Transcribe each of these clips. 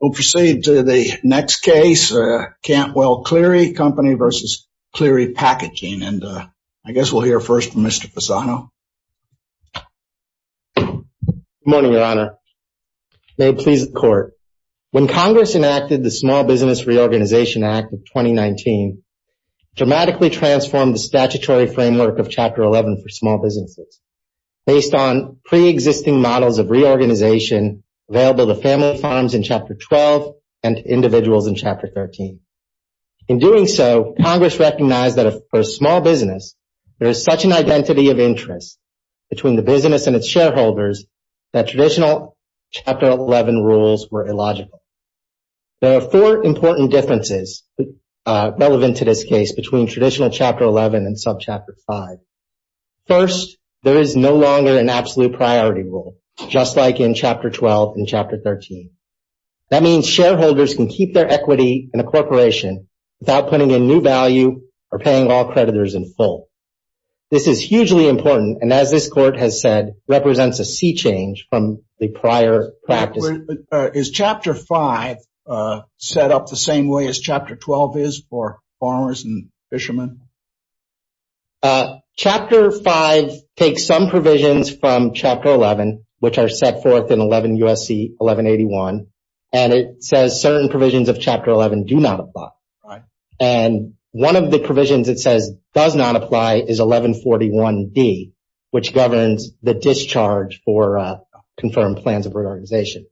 We'll proceed to the next case, Cantwell-Cleary, Co., v. Cleary Packaging, and I guess we'll hear first from Mr. Fasano. Good morning, Your Honor. May it please the Court. When Congress enacted the Small Business Reorganization Act of 2019, it dramatically transformed the statutory framework of Chapter 11 for small businesses based on pre-existing models of reorganization available to family farms in Chapter 12 and to individuals in Chapter 13. In doing so, Congress recognized that for a small business, there is such an identity of interest between the business and its shareholders that traditional Chapter 11 rules were illogical. There are four important differences relevant to this case between traditional Chapter 11 and sub-Chapter 5. First, there is no longer an absolute priority rule, just like in Chapter 12 and Chapter 13. That means shareholders can keep their equity in a corporation without putting in new value or paying all creditors in full. This is hugely important and, as this Court has said, represents a sea change from the prior practice. Is Chapter 5 set up the same way as Chapter 12 is for farmers and fishermen? Chapter 5 takes some provisions from Chapter 11, which are set forth in 11 U.S.C. 1181, and it says certain provisions of Chapter 11 do not apply. And one of the provisions it says does not apply is 1141d, which governs the discharge for confirmed plans of reorganization.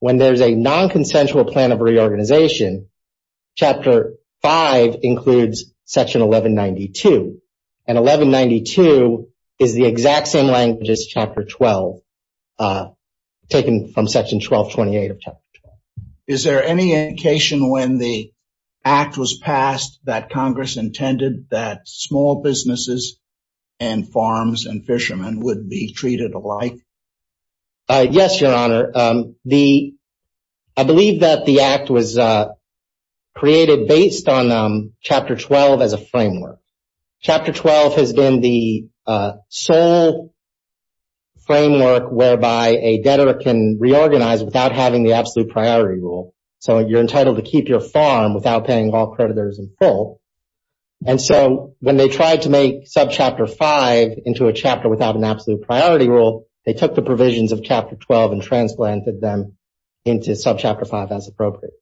When there is a non-consensual plan of reorganization, Chapter 5 includes Section 1192. And 1192 is the exact same language as Chapter 12, taken from Section 1228 of Chapter 12. Is there any indication when the Act was passed that Congress intended that small businesses and farms and fishermen would be treated alike? Yes, Your Honor. I believe that the Act was created based on Chapter 12 as a framework. Chapter 12 has been the sole framework whereby a debtor can reorganize without having the absolute priority rule. So you're entitled to keep your farm without paying all creditors in full. And so when they tried to make Subchapter 5 into a chapter without an absolute priority rule, they took the provisions of Chapter 12 and transplanted them into Subchapter 5 as appropriate.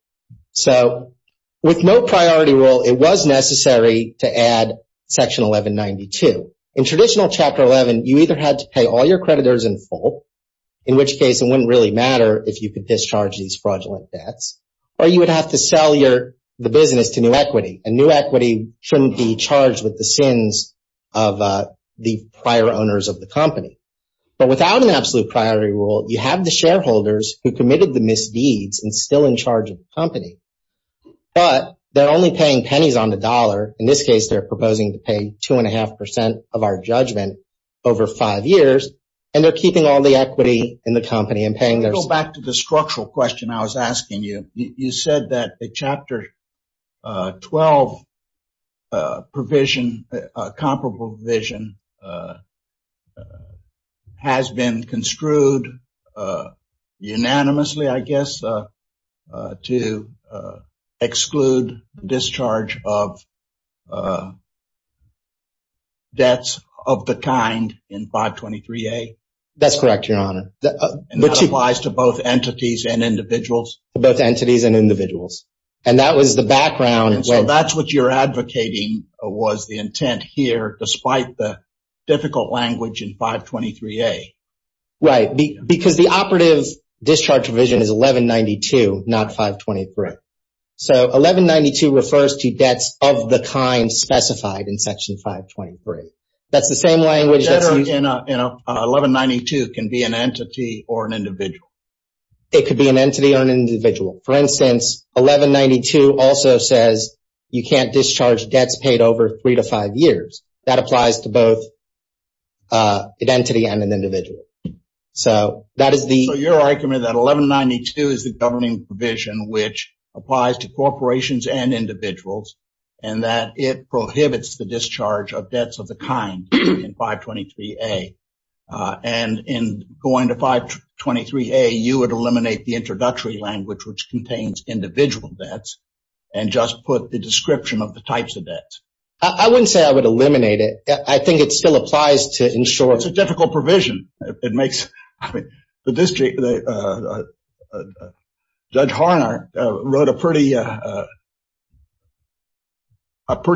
So with no priority rule, it was necessary to add Section 1192. In traditional Chapter 11, you either had to pay all your creditors in full, in which case it wouldn't really matter if you could discharge these fraudulent debts, or you would have to sell the business to New Equity. And New Equity shouldn't be charged with the sins of the prior owners of the company. But without an absolute priority rule, you have the shareholders who committed the misdeeds and are still in charge of the company. But they're only paying pennies on the dollar. In this case, they're proposing to pay two and a half percent of our judgment over five years, and they're keeping all the equity in the company and paying their... Go back to the structural question I was asking you. You said that the Chapter 12 provision, comparable provision, has been construed unanimously, I guess, to exclude discharge of debts of the kind in 523A? That's correct, Your Honor. And that applies to both entities and individuals? Both entities and individuals. And that was the background... And so that's what you're advocating was the intent here, despite the difficult language in 523A? Right. Because the operative discharge provision is 1192, not 523. So 1192 refers to debts of the kind specified in Section 523. That's the same language that's... A debtor in 1192 can be an entity or an individual? It could be an entity or an individual. For instance, 1192 also says you can't discharge debts paid over three to five years. That applies to both an entity and an individual. So that is the... So you're arguing that 1192 is the governing provision which applies to corporations and individuals, and that it prohibits the you would eliminate the introductory language which contains individual debts and just put the description of the types of debts. I wouldn't say I would eliminate it. I think it still applies to insurers. It's a difficult provision. It makes... Judge Harnard wrote a pretty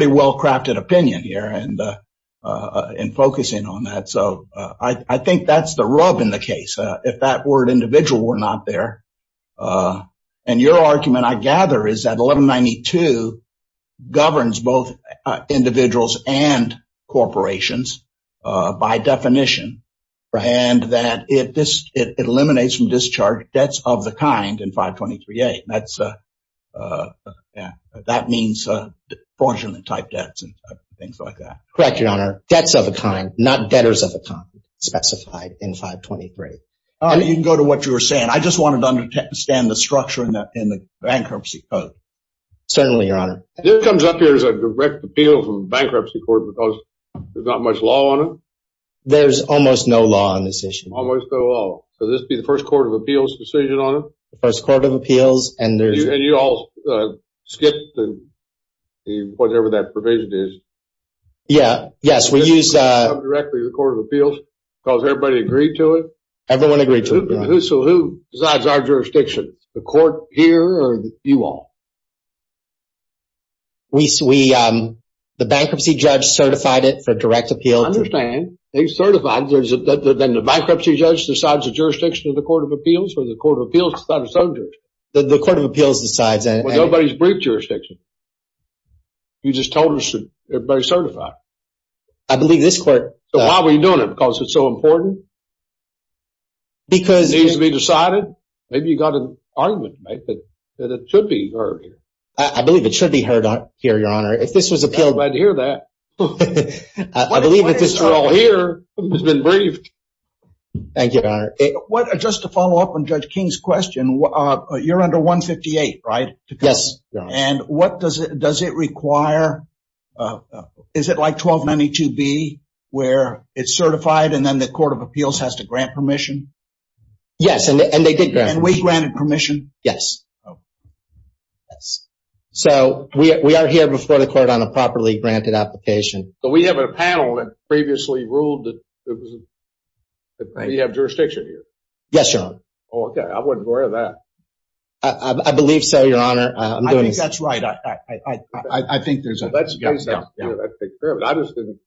well-crafted opinion here in focusing on that. So I think that's the rub in the case. If that word individual were not there, and your argument, I gather, is that 1192 governs both individuals and corporations by definition, and that it eliminates from discharge debts of the kind in 523A. That means fraudulent-type debts and things like that. Correct, Your Honor. Debts of a kind, not debtors of a kind, specified in 523. You can go to what you were saying. I just wanted to understand the structure in the bankruptcy code. Certainly, Your Honor. This comes up here as a direct appeal from bankruptcy court because there's not much law on it? There's almost no law on this issue. Almost no law. So this would be the first court of appeals decision on it? The first court of appeals, and there's... And you all skipped whatever that provision is? Yeah. Yes, we use... Does it come directly to the court of appeals because everybody agreed to it? Everyone agreed to it, Your Honor. So who decides our jurisdiction? The court here or you all? The bankruptcy judge certified it for direct appeal. I understand. They certified. Then the bankruptcy judge decides the jurisdiction of the court of appeals or the court of appeals decides its own jurisdiction? The court of appeals decides. Well, nobody's briefed jurisdiction. You just told us that everybody's certified. I believe this court... So why were you doing it? Because it's so important? Because... It needs to be decided? Maybe you got an argument to make that it should be heard here. I believe it should be heard here, Your Honor. If this was appealed... I'm glad to hear that. Thank you, Your Honor. Just to follow up on Judge King's question, you're under 158, right? Yes. And what does it... Does it require... Is it like 1292B where it's certified, and then the court of appeals has to grant permission? Yes. And we granted permission. Yes. So we are here before the court on a properly granted application. So we have a panel that previously ruled that we have jurisdiction here? Yes, Your Honor. Oh, okay. I wasn't aware of that. I believe so, Your Honor. I'm doing... I think that's right. I think there's a... Let's take care of it. I just didn't...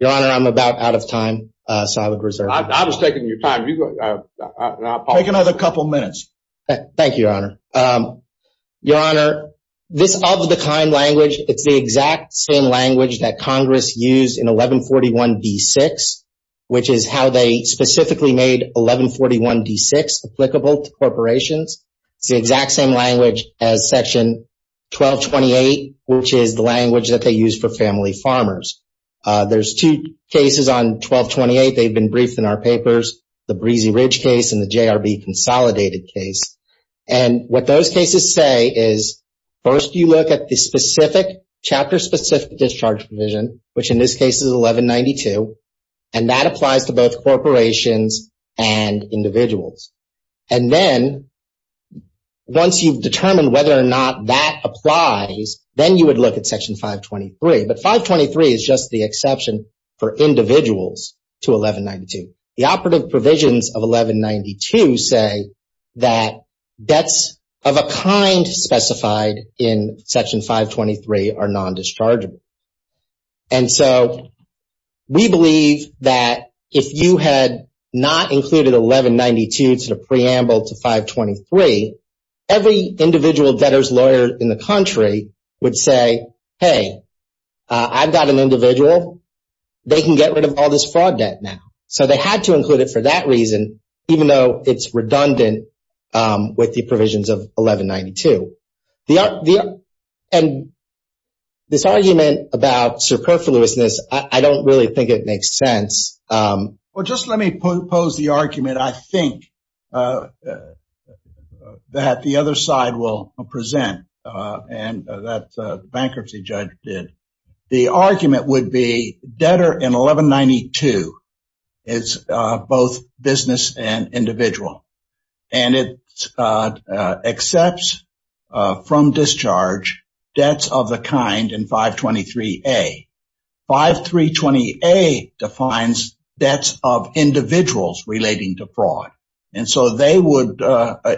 Your Honor, I'm about out of time. So I would reserve... I was taking your time. You go... Take another couple minutes. Thank you, Your Honor. Your Honor, this of the kind language, it's the exact same that Congress used in 1141D6, which is how they specifically made 1141D6 applicable to corporations. It's the exact same language as section 1228, which is the language that they use for family farmers. There's two cases on 1228. They've been briefed in our papers, the Breezy Ridge case and the JRB consolidated case. And what those cases say is, first, you look at the specific chapter, specific discharge provision, which in this case is 1192. And that applies to both corporations and individuals. And then once you've determined whether or not that applies, then you would look at section 523. But 523 is just the exception for individuals to 1192. The operative provisions of 1192 say that debts of a kind specified in section 523 are non-dischargeable. And so we believe that if you had not included 1192 to the preamble to 523, every individual debtors lawyer in the country would say, hey, I've got an individual. They can get rid of all this fraud debt now. So they had to include it for that reason, even though it's redundant with the provisions of 1192. And this argument about superfluousness, I don't really think it makes sense. Well, just let me pose the argument, I think, that the other side will present and that the bankruptcy judge did. The argument would be debtor in 1192 is both business and individual. And it accepts from discharge debts of the kind in 523A. 523A defines debts of individuals relating to fraud. And so they would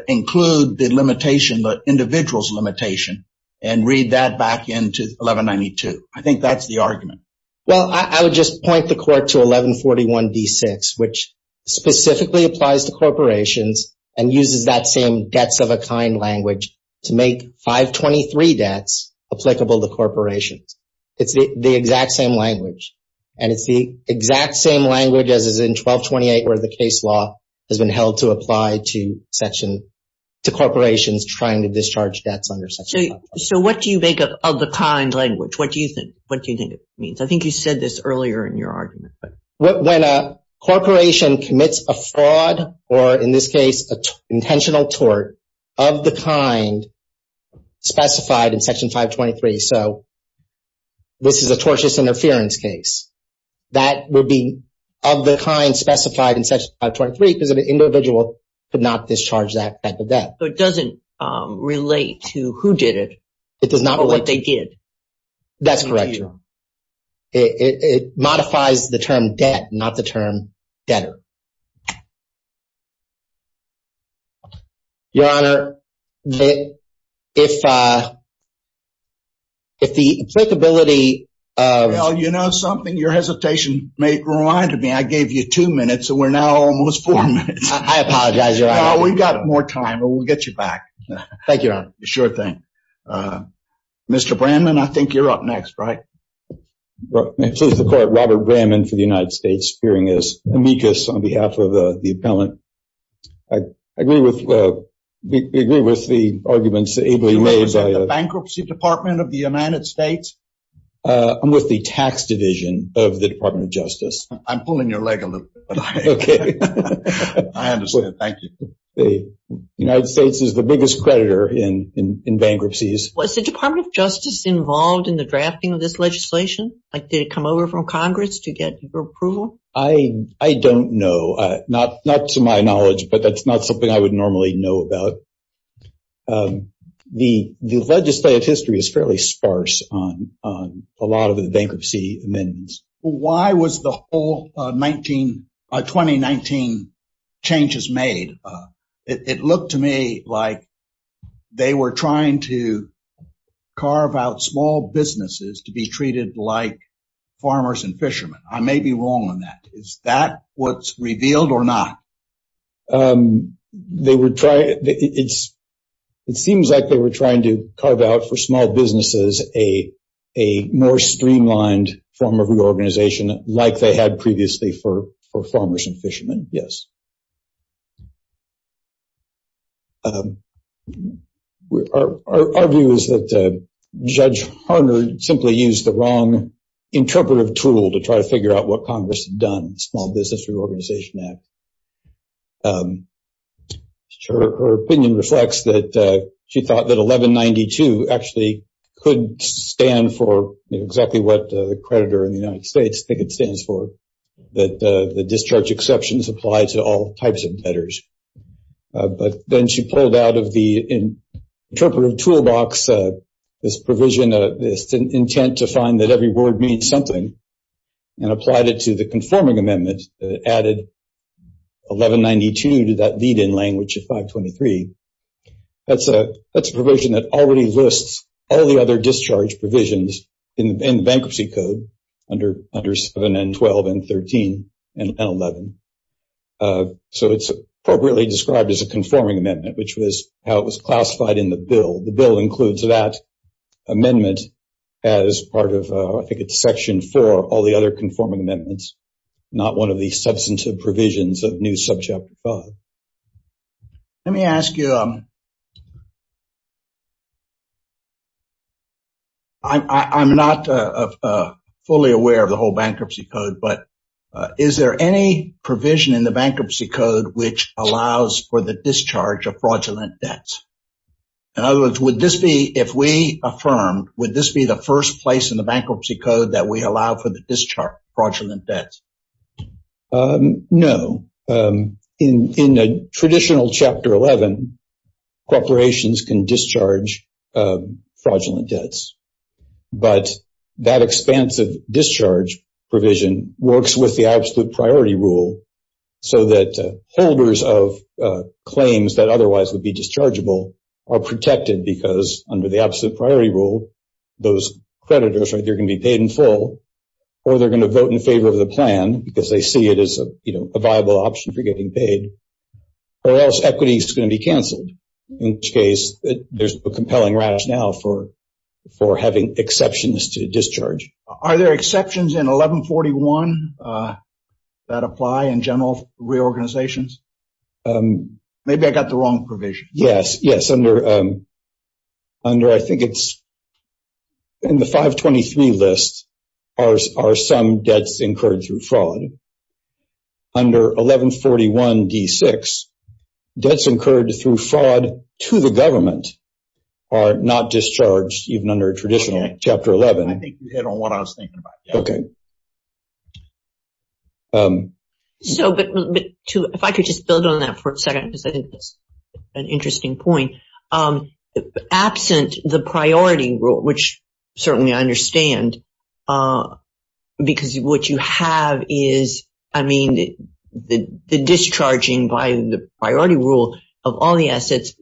include the limitation, individual's limitation, and read that back into 1192. I think that's the argument. Well, I would just point the court to 1141d6, which specifically applies to corporations and uses that same debts of a kind language to make 523 debts applicable to corporations. It's the exact same language. And it's the exact same language as is in 1228, where the case law has been held to apply to corporations trying to discharge debts under section 523. So what do you make of the kind language? What do you think it means? I think you said this earlier in your argument. When a corporation commits a fraud, or in this case, an intentional tort of the kind specified in section 523, so this is a tortious interference case, that would be of the kind specified in section 523 because an individual could not discharge that type of debt. So it doesn't relate to who did it? It does not. Or what they did. That's correct. It modifies the term debt, not the term debtor. Your Honor, if the applicability of... Well, you know something? Your hesitation reminded me. I gave you two minutes, so we're now almost four minutes. I apologize, Your Honor. We've got more time, but we'll get you back. Thank you, Your Honor. Sure thing. Mr. Bramman, I think you're up next, right? Well, may it please the Court, Robert Bramman for the United States, appearing as amicus on behalf of the appellant. I agree with the arguments ably laid by... You represent the Bankruptcy Department of the United States? I'm with the Tax Division of the Department of Justice. I'm pulling your leg a little bit, but I understand. Thank you. The United States is the biggest creditor in bankruptcies. Was the Department of Justice involved in the drafting of this legislation? Did it come over from Congress to get your approval? I don't know. Not to my knowledge, but that's not something I would normally know about. The legislative history is fairly sparse on a lot of the bankruptcy amendments. Why was the whole 2019 changes made? It looked to me like they were trying to carve out small businesses to be treated like farmers and fishermen. I may be wrong on that. Is that what's revealed or not? It seems like they were trying to carve out for small businesses a more streamlined form of reorganization like they had previously for farmers and fishermen. Our view is that Judge Harner simply used the wrong interpretive tool to try to figure out what Congress had done, the Small Business Reorganization Act. Her opinion reflects that she thought that 1192 actually could stand for exactly what the creditor in the United States think it stands for, that the discharge exceptions apply to all types of debtors. But then she pulled out of the interpretive toolbox this provision, this intent to find that every word means something, and applied it to the conforming amendment that added 1192 to that lead-in language of 523. That's a provision that already lists all the other discharge provisions in the bankruptcy code under 7 and 12 and 13 and 11. So it's appropriately described as a conforming amendment, which was how it was classified in the bill. The bill includes that amendment as part of, I think it's section 4, all the other conforming amendments, not one of the substantive provisions of New Subchapter 5. Let me ask you, I'm not fully aware of the whole bankruptcy code, but is there any provision in the bankruptcy code which allows for the discharge of fraudulent debts? In other words, would this be, if we affirmed, would this be the first place in the bankruptcy code that we allow for the discharge fraudulent debts? No. In a traditional Chapter 11, corporations can discharge fraudulent debts. But that expansive discharge provision works with the absolute priority rule, so that holders of claims that otherwise would be dischargeable are protected because, under the absolute priority rule, those creditors are going to be paid in full, or they're going to vote in favor of the plan because they see it as a viable option for getting paid, or else equity is going to be canceled, in which case there's a compelling rationale for having exceptions to discharge. Are there exceptions in 1141 that apply in general reorganizations? Maybe I got the wrong provision. Yes, yes. Under, I think it's in the 523 list, are some debts incurred through fraud. Under 1141d6, debts incurred through fraud to the government are not discharged, even under traditional Chapter 11. I think you hit on what I was thinking about. Okay. So, but to, if I could just build on that for a second, because I think it's an interesting point. Absent the priority rule, which certainly I understand, because what you have is, I mean, the discharging by the priority rule of all the assets,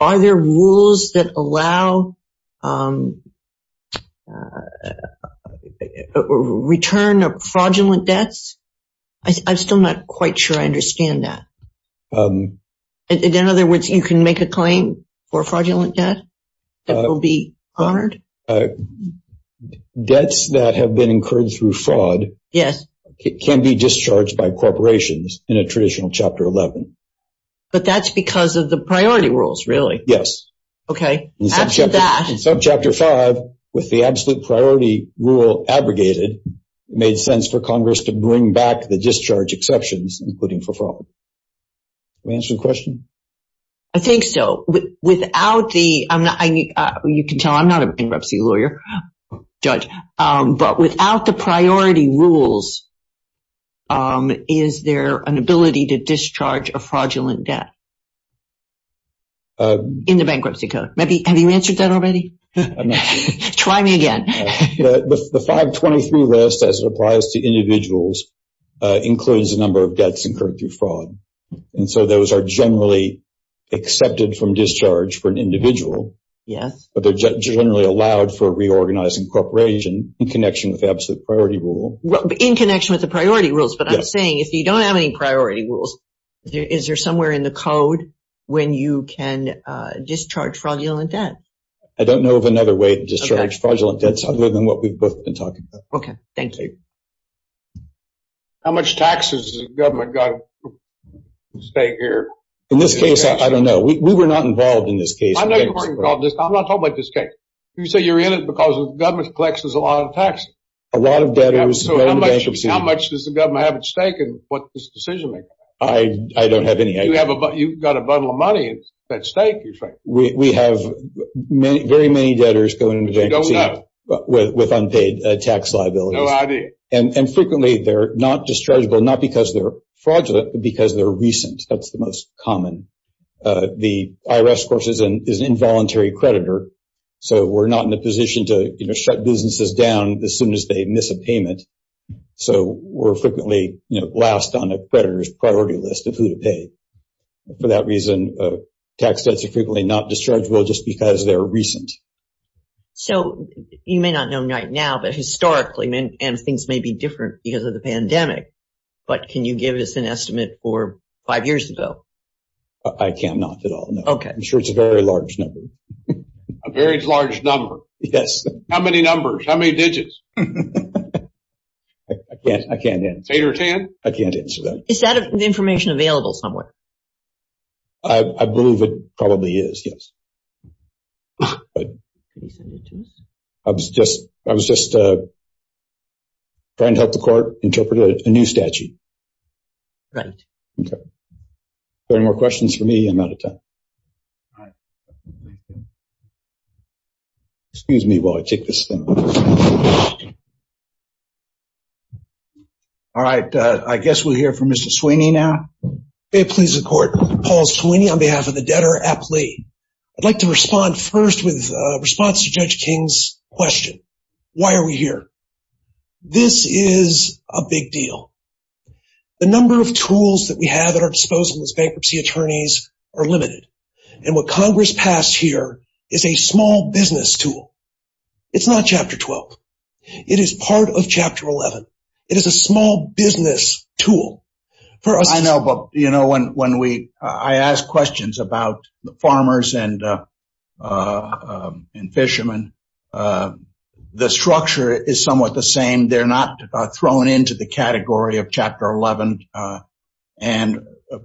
are there rules that allow, um, return of fraudulent debts? I'm still not quite sure I understand that. In other words, you can make a claim for fraudulent debt that will be honored? Debts that have been incurred through fraud can be discharged by corporations in a traditional Chapter 11. But that's because of the priority rules, really? Yes. Okay. After that. In Subchapter 5, with the absolute priority rule abrogated, made sense for Congress to bring back the discharge exceptions, including for fraud. Can we answer the question? I think so. Without the, you can tell I'm not a bankruptcy lawyer, judge, but without the priority rules, is there an ability to discharge a fraudulent debt? Uh, in the bankruptcy code, maybe. Have you answered that already? Try me again. The 523 list, as it applies to individuals, includes a number of debts incurred through fraud. And so those are generally accepted from discharge for an individual. Yes. But they're generally allowed for reorganizing corporation in connection with absolute priority rule. In connection with the priority rules. But I'm saying if you don't have any priority rules, is there somewhere in the code when you can discharge fraudulent debt? I don't know of another way to discharge fraudulent debts other than what we've both been talking about. Okay. Thank you. How much taxes has the government got at stake here? In this case, I don't know. We were not involved in this case. I'm not talking about this case. You say you're in it because government collects a lot of taxes. A lot of debtors. How much does the government have at I don't have any idea. You've got a bundle of money at stake, you think? We have very many debtors going into bankruptcy with unpaid tax liabilities. No idea. And frequently, they're not dischargeable, not because they're fraudulent, but because they're recent. That's the most common. The IRS, of course, is an involuntary creditor. So we're not in a position to shut businesses down as soon as they miss a payment. So we're frequently last on a creditor's priority list of who to pay. For that reason, tax debts are frequently not dischargeable just because they're recent. So you may not know right now, but historically, and things may be different because of the pandemic, but can you give us an estimate for five years ago? I cannot at all. No. Okay. I'm sure it's a very large number. A very large number. Yes. How many numbers? How many information available somewhere? I believe it probably is. Yes. I was just trying to help the court interpret a new statute. Right. Okay. Are there any more questions for me? I'm out of time. Excuse me while I take this thing. All right. I guess we'll hear from Mr. Sweeney now. May it please the court. Paul Sweeney on behalf of the Debtor at Play. I'd like to respond first with a response to Judge King's question. Why are we here? This is a big deal. The number of tools that we have at our disposal as bankruptcy attorneys are limited. And what Congress passed here is a small business tool. It's not Chapter 12. It is part of Chapter 11. It is a small business tool. I know, but when I ask questions about the farmers and fishermen, the structure is somewhat the same. They're not thrown into the category of Chapter 11. And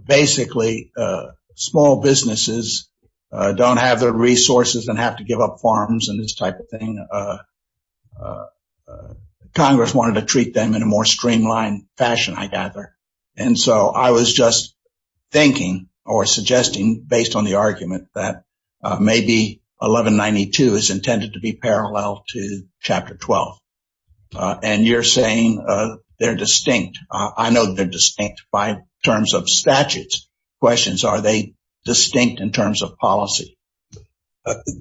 basically, small businesses don't have the resources and have to give up farms and this type of thing. Congress wanted to treat them in a more streamlined fashion, I gather. And so I was just thinking or suggesting based on the argument that maybe 1192 is intended to be parallel to Chapter 12. Are they distinct in terms of policy?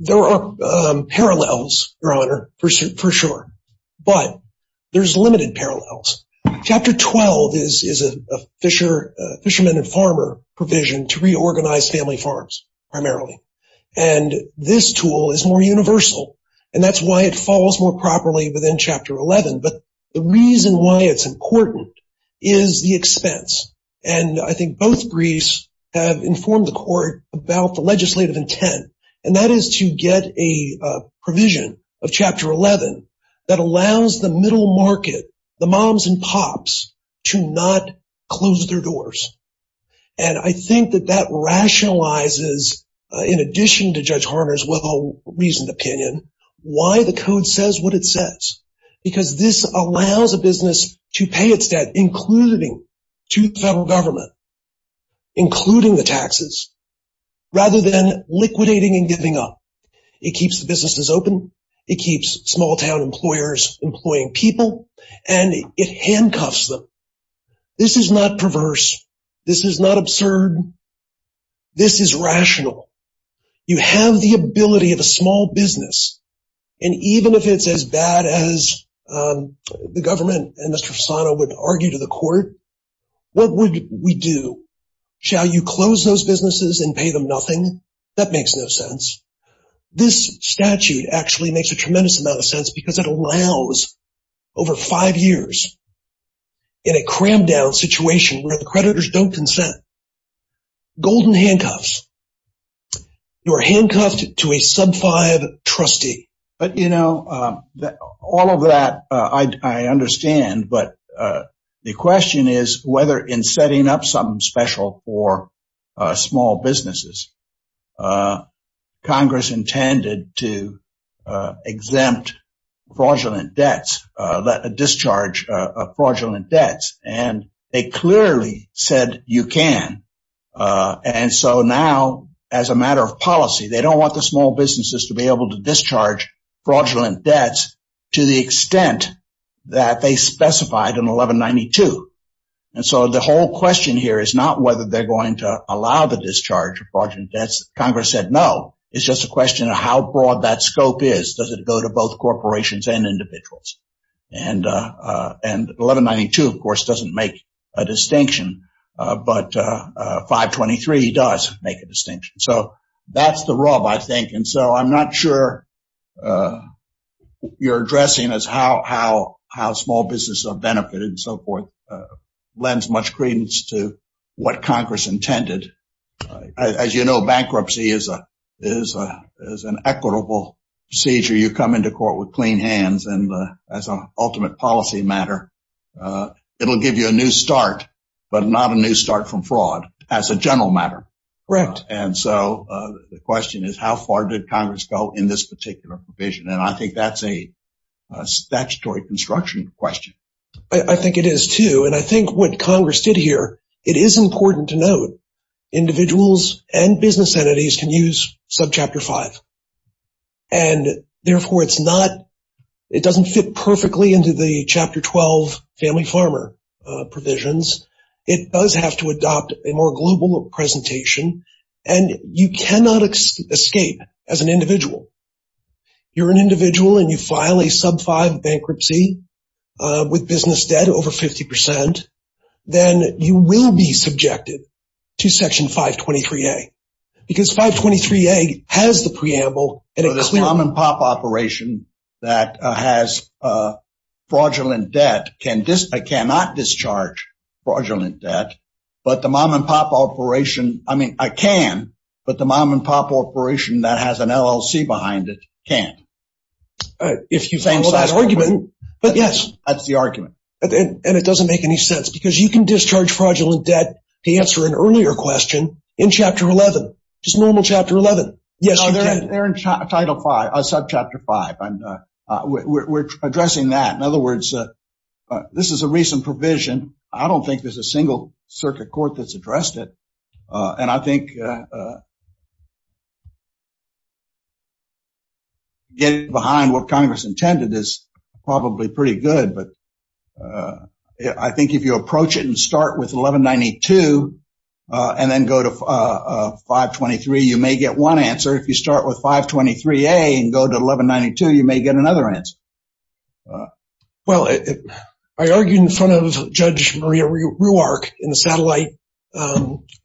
There are parallels, Your Honor, for sure. But there's limited parallels. Chapter 12 is a fisherman and farmer provision to reorganize family farms primarily. And this tool is more universal. And that's why it falls more properly within Chapter 11. But the reason why it's important is the expense. And I think both briefs have informed the court about the legislative intent. And that is to get a provision of Chapter 11 that allows the middle market, the moms and pops, to not close their doors. And I think that that rationalizes, in addition to Judge Harner's well-reasoned opinion, why the Code says what it says. Because this allows a business to pay its debt, including to the federal government, including the taxes, rather than liquidating and giving up. It keeps the businesses open. It keeps small-town employers employing people. And it handcuffs them. This is not perverse. This is not as the government and Mr. Fasano would argue to the court. What would we do? Shall you close those businesses and pay them nothing? That makes no sense. This statute actually makes a tremendous amount of sense because it allows, over five years, in a crammed-down situation where the creditors don't consent, golden handcuffs. You are handcuffed to a sub-five trustee. But, you know, all of that I understand. But the question is whether, in setting up something special for small businesses, Congress intended to exempt fraudulent debts, discharge fraudulent debts. And they clearly said you can. And so now, as a matter of policy, they don't want the small businesses to be able to discharge fraudulent debts to the extent that they specified in 1192. And so the whole question here is not whether they're going to allow the discharge of fraudulent debts. Congress said no. It's just a question of how broad that scope is. Does it go to both corporations and individuals? And 1192, of course, doesn't make a distinction. But 523 does make a distinction. So I'm not sure you're addressing as how small businesses are benefited and so forth lends much credence to what Congress intended. As you know, bankruptcy is an equitable procedure. You come into court with clean hands. And as an ultimate policy matter, it'll give you a new start, but not a new start from fraud, as a general matter. And so the question is, how far did Congress go in this particular provision? And I think that's a statutory construction question. I think it is too. And I think what Congress did here, it is important to note individuals and business entities can use subchapter five. And therefore, it's not, it doesn't fit perfectly into the chapter 12 family farmer provisions. It does have to adopt a more global presentation. And you cannot escape as an individual. You're an individual and you file a sub five bankruptcy with business debt over 50%. Then you will be subjected to section 523a. Because 523a has the preamble and this mom and pop operation that has fraudulent debt, I cannot discharge fraudulent debt, but the mom and pop operation, I mean, I can, but the mom and pop operation that has an LLC behind it can't. If you think that argument, but yes, that's the argument. And it doesn't make any sense because you can discharge fraudulent debt to answer an earlier question in chapter 11, just normal chapter 11. Yes, they're in title five, subchapter five. We're addressing that. In other words, this is a recent provision. I don't think there's a single circuit court that's addressed it. And I think getting behind what Congress intended is probably pretty good. But I think if you approach it and with 1192 and then go to 523, you may get one answer. If you start with 523a and go to 1192, you may get another answer. Well, I argued in front of Judge Maria Ruark in the satellite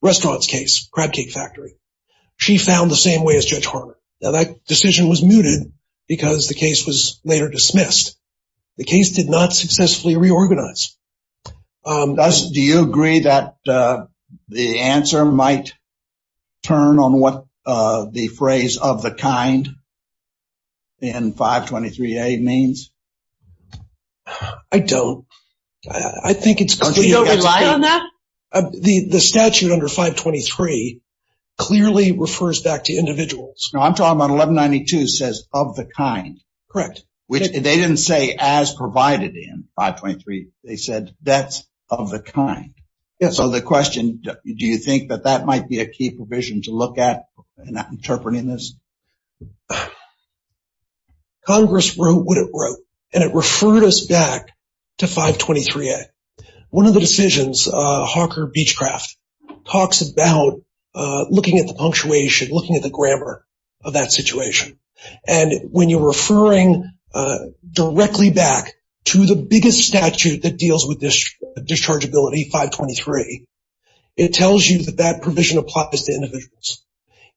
restaurants case, Crab Cake Factory. She found the same way as Judge Harmon. Now that decision was mooted because the case was later dismissed. The case did not successfully reorganize. Does, do you agree that the answer might turn on what the phrase of the kind in 523a means? I don't. I think it's because we don't rely on that. The statute under 523 clearly refers back to individuals. No, I'm talking about 1192 says of the kind. Correct. They didn't say as provided in 523. They said that's of the kind. So the question, do you think that that might be a key provision to look at in interpreting this? Congress wrote what it wrote and it referred us back to 523a. One of the decisions, Hawker Beechcraft, talks about looking at the punctuation, looking at the grammar of that situation. And when you're referring directly back to the biggest statute that deals with this dischargeability, 523, it tells you that that provision applies to individuals.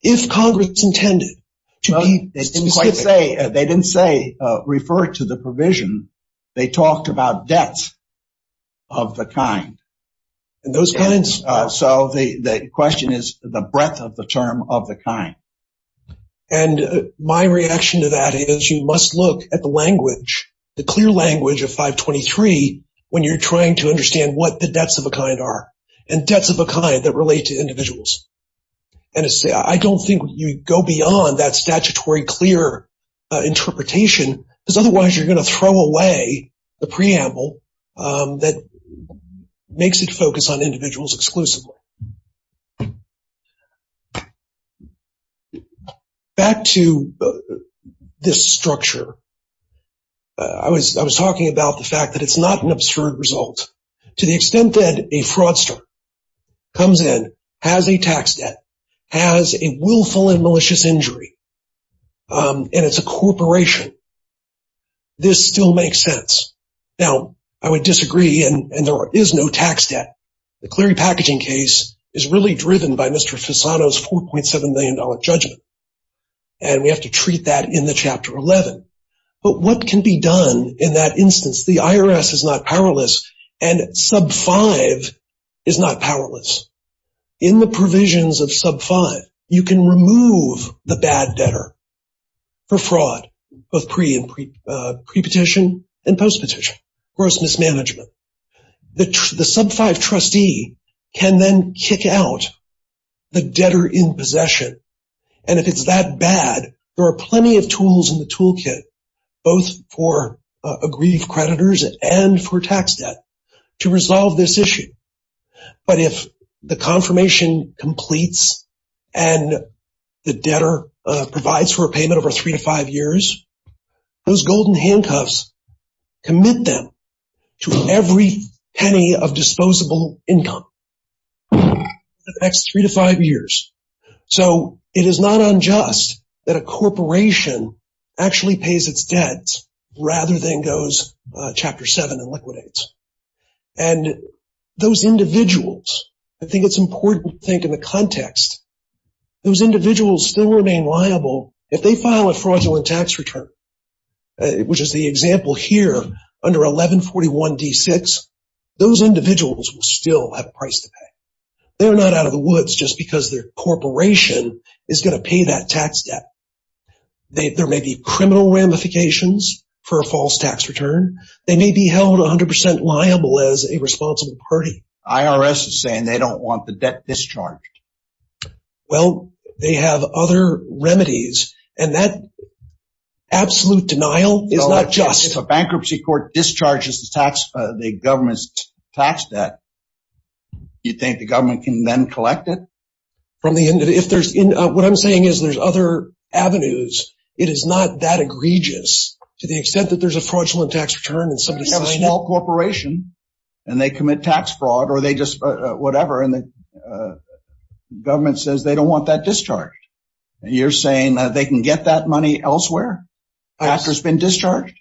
If Congress intended to be specific. They didn't say refer to the provision. They talked about depth of the kind. And those kinds, so the question is the breadth of the term of the kind. And my reaction to that is you must look at the language, the clear language of 523 when you're trying to understand what the depths of a kind are and depths of a kind that relate to individuals. And I don't think you go beyond that statutory clear interpretation because otherwise you're going to throw away the preamble that makes it focus on individuals exclusively. Back to this structure, I was talking about the fact that it's not an absurd result. To the extent that a fraudster comes in, has a tax debt, has a willful and malicious injury, and it's a corporation, this still makes sense. Now, I would disagree and there is no tax debt. The Cleary packaging case is really driven by Mr. Fasano's $4.7 million judgment. And we have to treat that in the Chapter 11. But what can be done in that instance? The IRS is not powerless and Sub 5 is not powerless. In the provisions of Sub 5, you can remove the bad debtor for fraud, both pre-petition and post-petition, gross mismanagement. The Sub 5 trustee can then kick out the debtor in possession. And if it's that bad, there are plenty of tools in the toolkit, both for aggrieved creditors and for tax debt to resolve this issue. But if the confirmation completes and the debtor provides for a payment over three to five years, those golden handcuffs commit them to every penny of disposable income the next three to five years. So it is not unjust that a corporation actually pays its debt rather than goes Chapter 7 and liquidates. And those individuals, I think it's important to think in the context, those individuals still remain liable if they file a fraudulent tax return, which is the example here under 1141 D6, those individuals will still have a price to pay. They're not out of the woods just because their corporation is going to pay that tax debt. There may be criminal ramifications for a false tax return. They may be held 100% liable as a discharge. Well, they have other remedies. And that absolute denial is not just a bankruptcy court discharges the government's tax debt. You think the government can then collect it? What I'm saying is there's other avenues. It is not that egregious to the extent that there's a fraudulent tax return and somebody has a small corporation and they commit tax fraud or they just whatever and the government says they don't want that discharge. You're saying that they can get that money elsewhere after it's been discharged?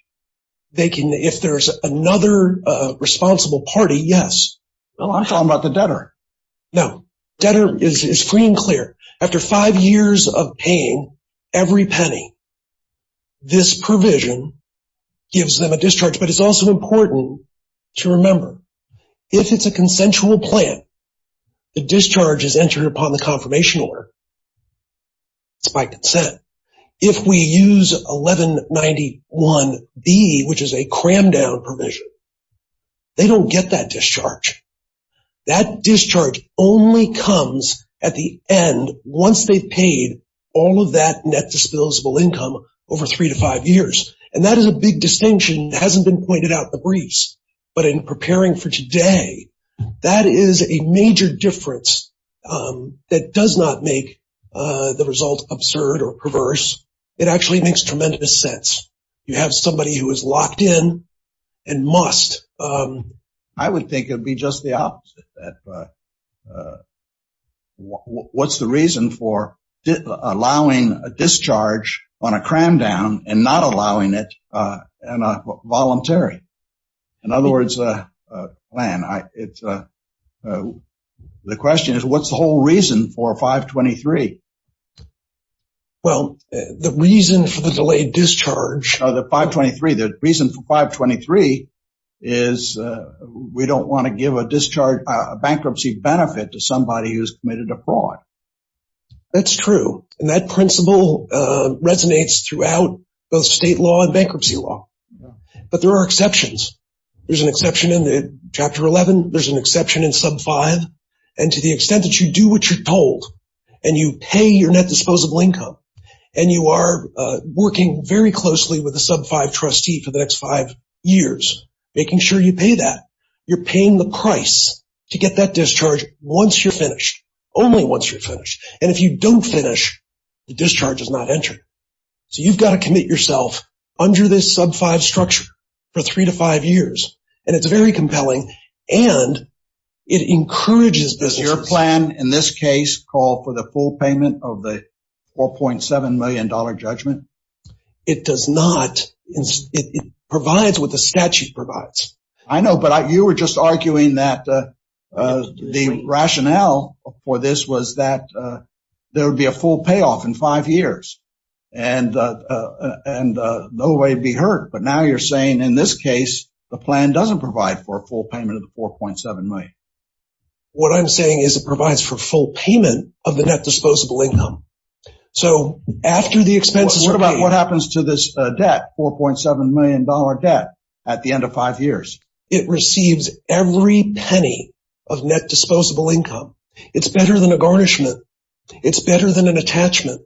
They can if there's another responsible party, yes. I'm talking about the debtor. No, debtor is free and clear. After five years of paying every penny, this provision gives them a discharge. But it's also important to remember, if it's a consensual plan, the discharge is entered upon the confirmation order. It's by consent. If we use 1191B, which is a crammed down provision, they don't get that discharge. That discharge only comes at the end once they've paid all of that net disposable income over three to five years. And that is a big distinction that hasn't been pointed out in the briefs. But in preparing for today, that is a major difference that does not make the result absurd or perverse. It actually makes tremendous sense. You have somebody who is locked in and must. I would think it would be just the opposite. What's the reason for allowing a discharge on a crammed down and not allowing it in a voluntary? In other words, the question is, what's the whole reason for 523? Well, the reason for the delayed discharge of the 523, the reason for 523 is we don't want to give a discharge bankruptcy benefit to somebody who's committed a fraud. That's true. And that principle resonates throughout both state law and bankruptcy law. But there are exceptions. There's an exception in Chapter 11. There's an exception in Sub 5. And to the extent that you do what you're told, and you pay your net disposable income, and you are working very closely with a Sub 5 trustee for the next five years, making sure you pay that, you're paying the price to get that discharge once you're finished, only once you're finished. And if you don't finish, the discharge is not entered. So you've got to commit yourself under this Sub 5 structure for three to five years. And it's very compelling. And it encourages business. Does your plan in this case call for the full payment of the $4.7 million judgment? It does not. It provides what the statute provides. I know. But you were just arguing that the rationale for this was that there would be a full payoff in five years and no way to be hurt. But now you're saying in this case, the plan doesn't provide for a full payment of the $4.7 million. What I'm saying is it provides for full payment of the net disposable income. So after the expenses... What about what happens to this debt, $4.7 million debt, at the end of five years? It receives every penny of net disposable income. It's better than a garnishment. It's better than an attachment.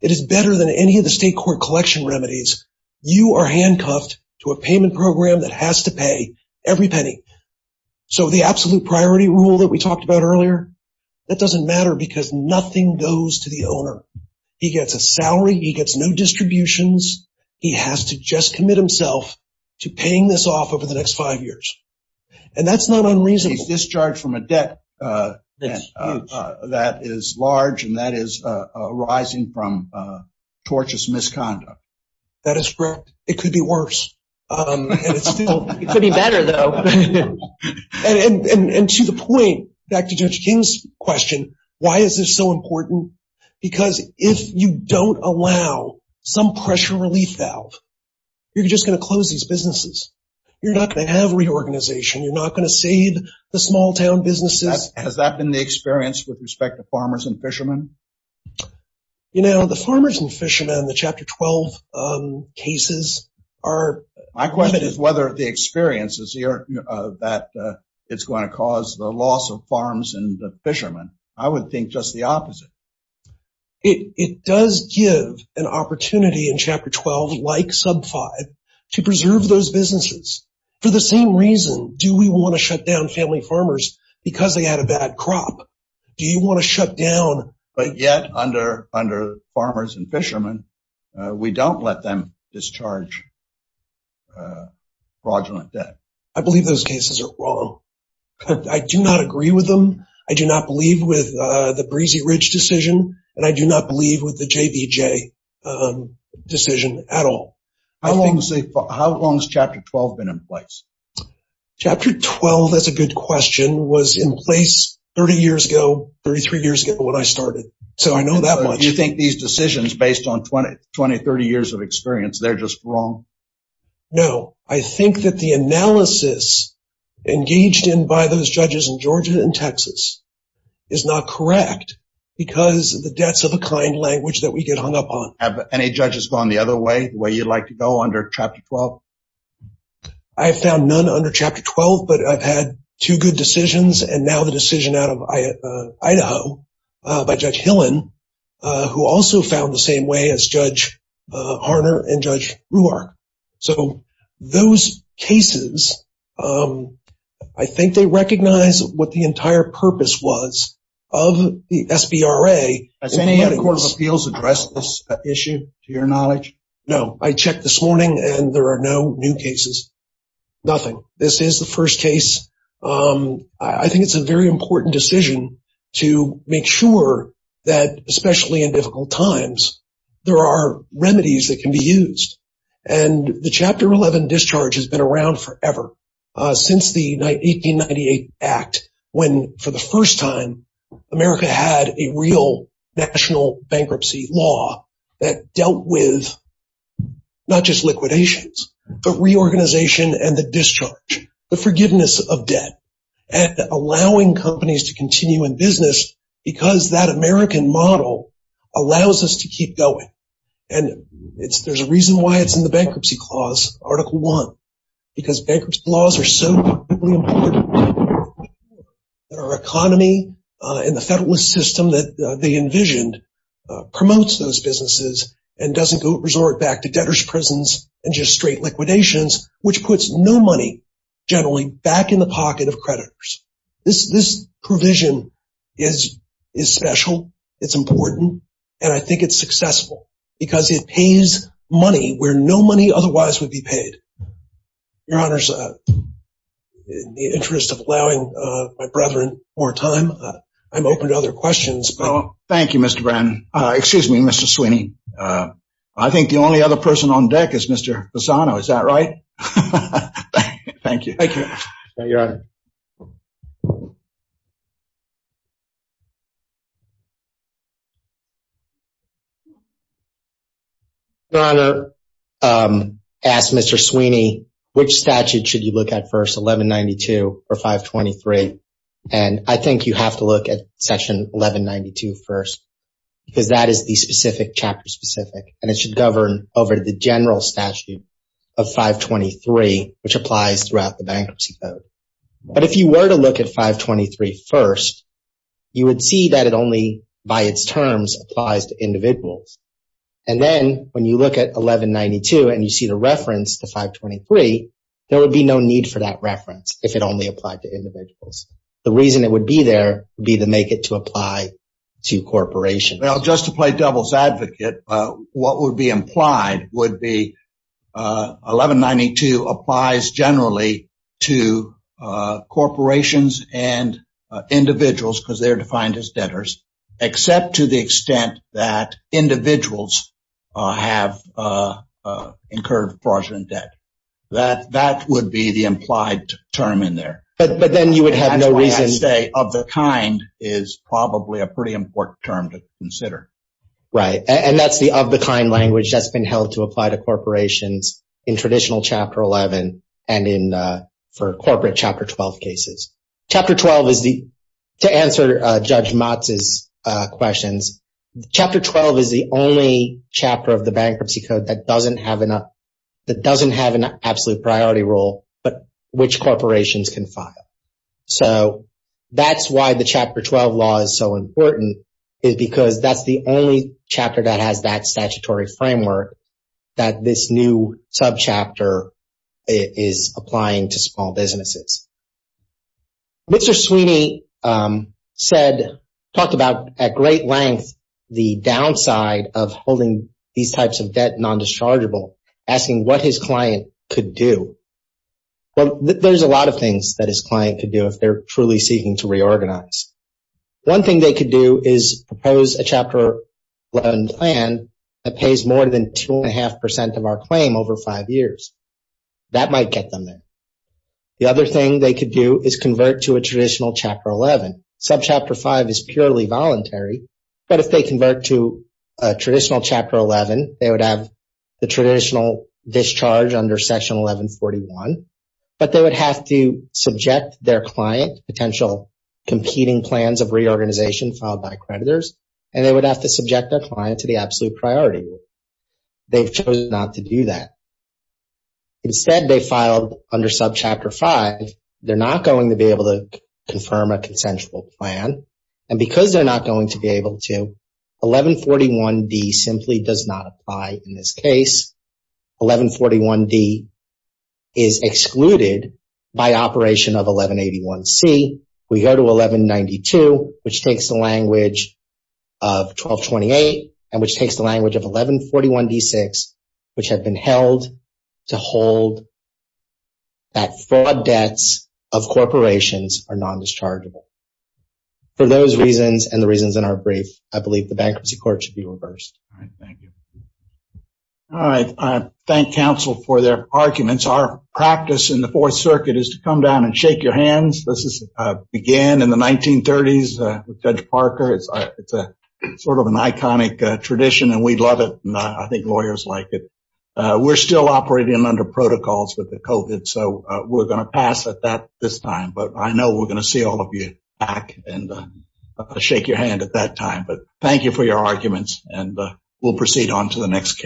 It is better than any of the state court collection remedies. You are handcuffed to a payment program that has to pay every penny. So the absolute owner, he gets a salary. He gets no distributions. He has to just commit himself to paying this off over the next five years. And that's not unreasonable. He's discharged from a debt that is large and that is arising from tortious misconduct. That is correct. It could be worse. It could be better though. And to the point, back to Judge King's question, why is this so important? Because if you don't allow some pressure relief valve, you're just going to close these businesses. You're not going to have reorganization. You're not going to save the small town businesses. Has that been the experience with respect to farmers and fishermen? You know, the farmers and fishermen, the Chapter 12 cases are... My question is whether the experience is that it's going to cause the loss of farms and the fishermen. I would think just the opposite. It does give an opportunity in Chapter 12, like Sub 5, to preserve those businesses. For the same reason, do we want to shut down family farmers because they had a bad crop? Do you want to shut down... But yet under farmers and fishermen, we don't let them discharge fraudulent debt. I believe those cases are wrong. I do not agree with them. I do not believe with the Breezy Ridge decision, and I do not believe with the JBJ decision at all. How long has Chapter 12 been in place? Chapter 12, that's a good question, was in place 30 years ago, 33 years ago when I started. So I know that much. Do you think these decisions, based on 20, 30 years of experience, they're just wrong? No. I think that the analysis engaged in by those judges in Georgia and Texas is not correct because the debts of a kind language that we get hung up on. Have any judges gone the other way, the way you'd like to go under Chapter 12? I've found none under Chapter 12, but I've had two good decisions, and now the decision out of Idaho by Judge Hillen, who also found the same way as Judge Ruark. So those cases, I think they recognize what the entire purpose was of the SBRA. Has any other Court of Appeals addressed this issue, to your knowledge? No. I checked this morning, and there are no new cases. Nothing. This is the first case. I think it's a very important decision to make sure that, especially in difficult times, there are remedies that can be used. The Chapter 11 discharge has been around forever, since the 1898 Act, when, for the first time, America had a real national bankruptcy law that dealt with not just liquidations, but reorganization and the discharge, the forgiveness of debt, and allowing companies to continue in business because that American model allows us to keep going. And there's a reason why it's in the Bankruptcy Clause, Article 1, because bankruptcy laws are so incredibly important to our economy and the Federalist system that they envisioned promotes those businesses and doesn't resort back to debtors' prisons and just straight liquidations, which puts no money, generally, back in the and I think it's successful because it pays money where no money otherwise would be paid. Your Honor, in the interest of allowing my brethren more time, I'm open to other questions. Thank you, Mr. Brannon. Excuse me, Mr. Sweeney. I think the only other person on deck is Mr. Lozano. Is that right? Thank you. Your Honor, I asked Mr. Sweeney, which statute should you look at first, 1192 or 523? And I think you have to look at Section 1192 first, because that is chapter specific and it should govern over the general statute of 523, which applies throughout the Bankruptcy Code. But if you were to look at 523 first, you would see that it only by its terms applies to individuals. And then when you look at 1192 and you see the reference to 523, there would be no need for that reference if it only applied to individuals. The reason it would be there would be to make it to apply to corporations. Well, just to play devil's advocate, what would be implied would be 1192 applies generally to corporations and individuals because they're defined as debtors, except to the extent that individuals have incurred fraudulent debt. That would be the implied term in there. But then you would have no reason to say of the kind is probably a pretty important term to consider. Right. And that's the of the kind language that's been held to apply to corporations in traditional Chapter 11 and in for corporate Chapter 12 cases. Chapter 12 is the, to answer Judge Motz's questions, Chapter 12 is the only chapter of the Bankruptcy Code that doesn't have enough, that doesn't have an absolute priority rule, but which corporations can file. So that's why the Chapter 12 law is so important is because that's the only chapter that has that statutory framework that this new subchapter is applying to small businesses. Mr. Sweeney said, talked about at great length, the downside of holding these types of debt non-dischargeable, asking what his client could do. Well, there's a lot of things that his client could do if they're truly seeking to reorganize. One thing they could do is propose a Chapter 11 plan that pays more than two and a half percent of our claim over five years. That might get them there. The other thing they could do is convert to a traditional Chapter 11. Subchapter 5 is purely voluntary, but if they convert to a traditional Chapter 11, they would have the traditional discharge under Section 1141, but they would have to subject their client to potential competing plans of reorganization filed by creditors, and they would have to instead, they filed under Subchapter 5. They're not going to be able to confirm a consensual plan, and because they're not going to be able to, 1141d simply does not apply in this case. 1141d is excluded by operation of 1181c. We go to 1192, which takes the language of 1228, and which takes the language of 1141d6, which had been held to hold that fraud debts of corporations are non-dischargeable. For those reasons and the reasons in our brief, I believe the Bankruptcy Court should be reversed. All right, thank you. All right, I thank counsel for their arguments. Our practice in the Fourth Circuit is to come down and shake your hands. This sort of an iconic tradition, and we love it, and I think lawyers like it. We're still operating under protocols with the COVID, so we're going to pass at that this time, but I know we're going to see all of you back and shake your hand at that time, but thank you for your arguments, and we'll proceed on to the next case.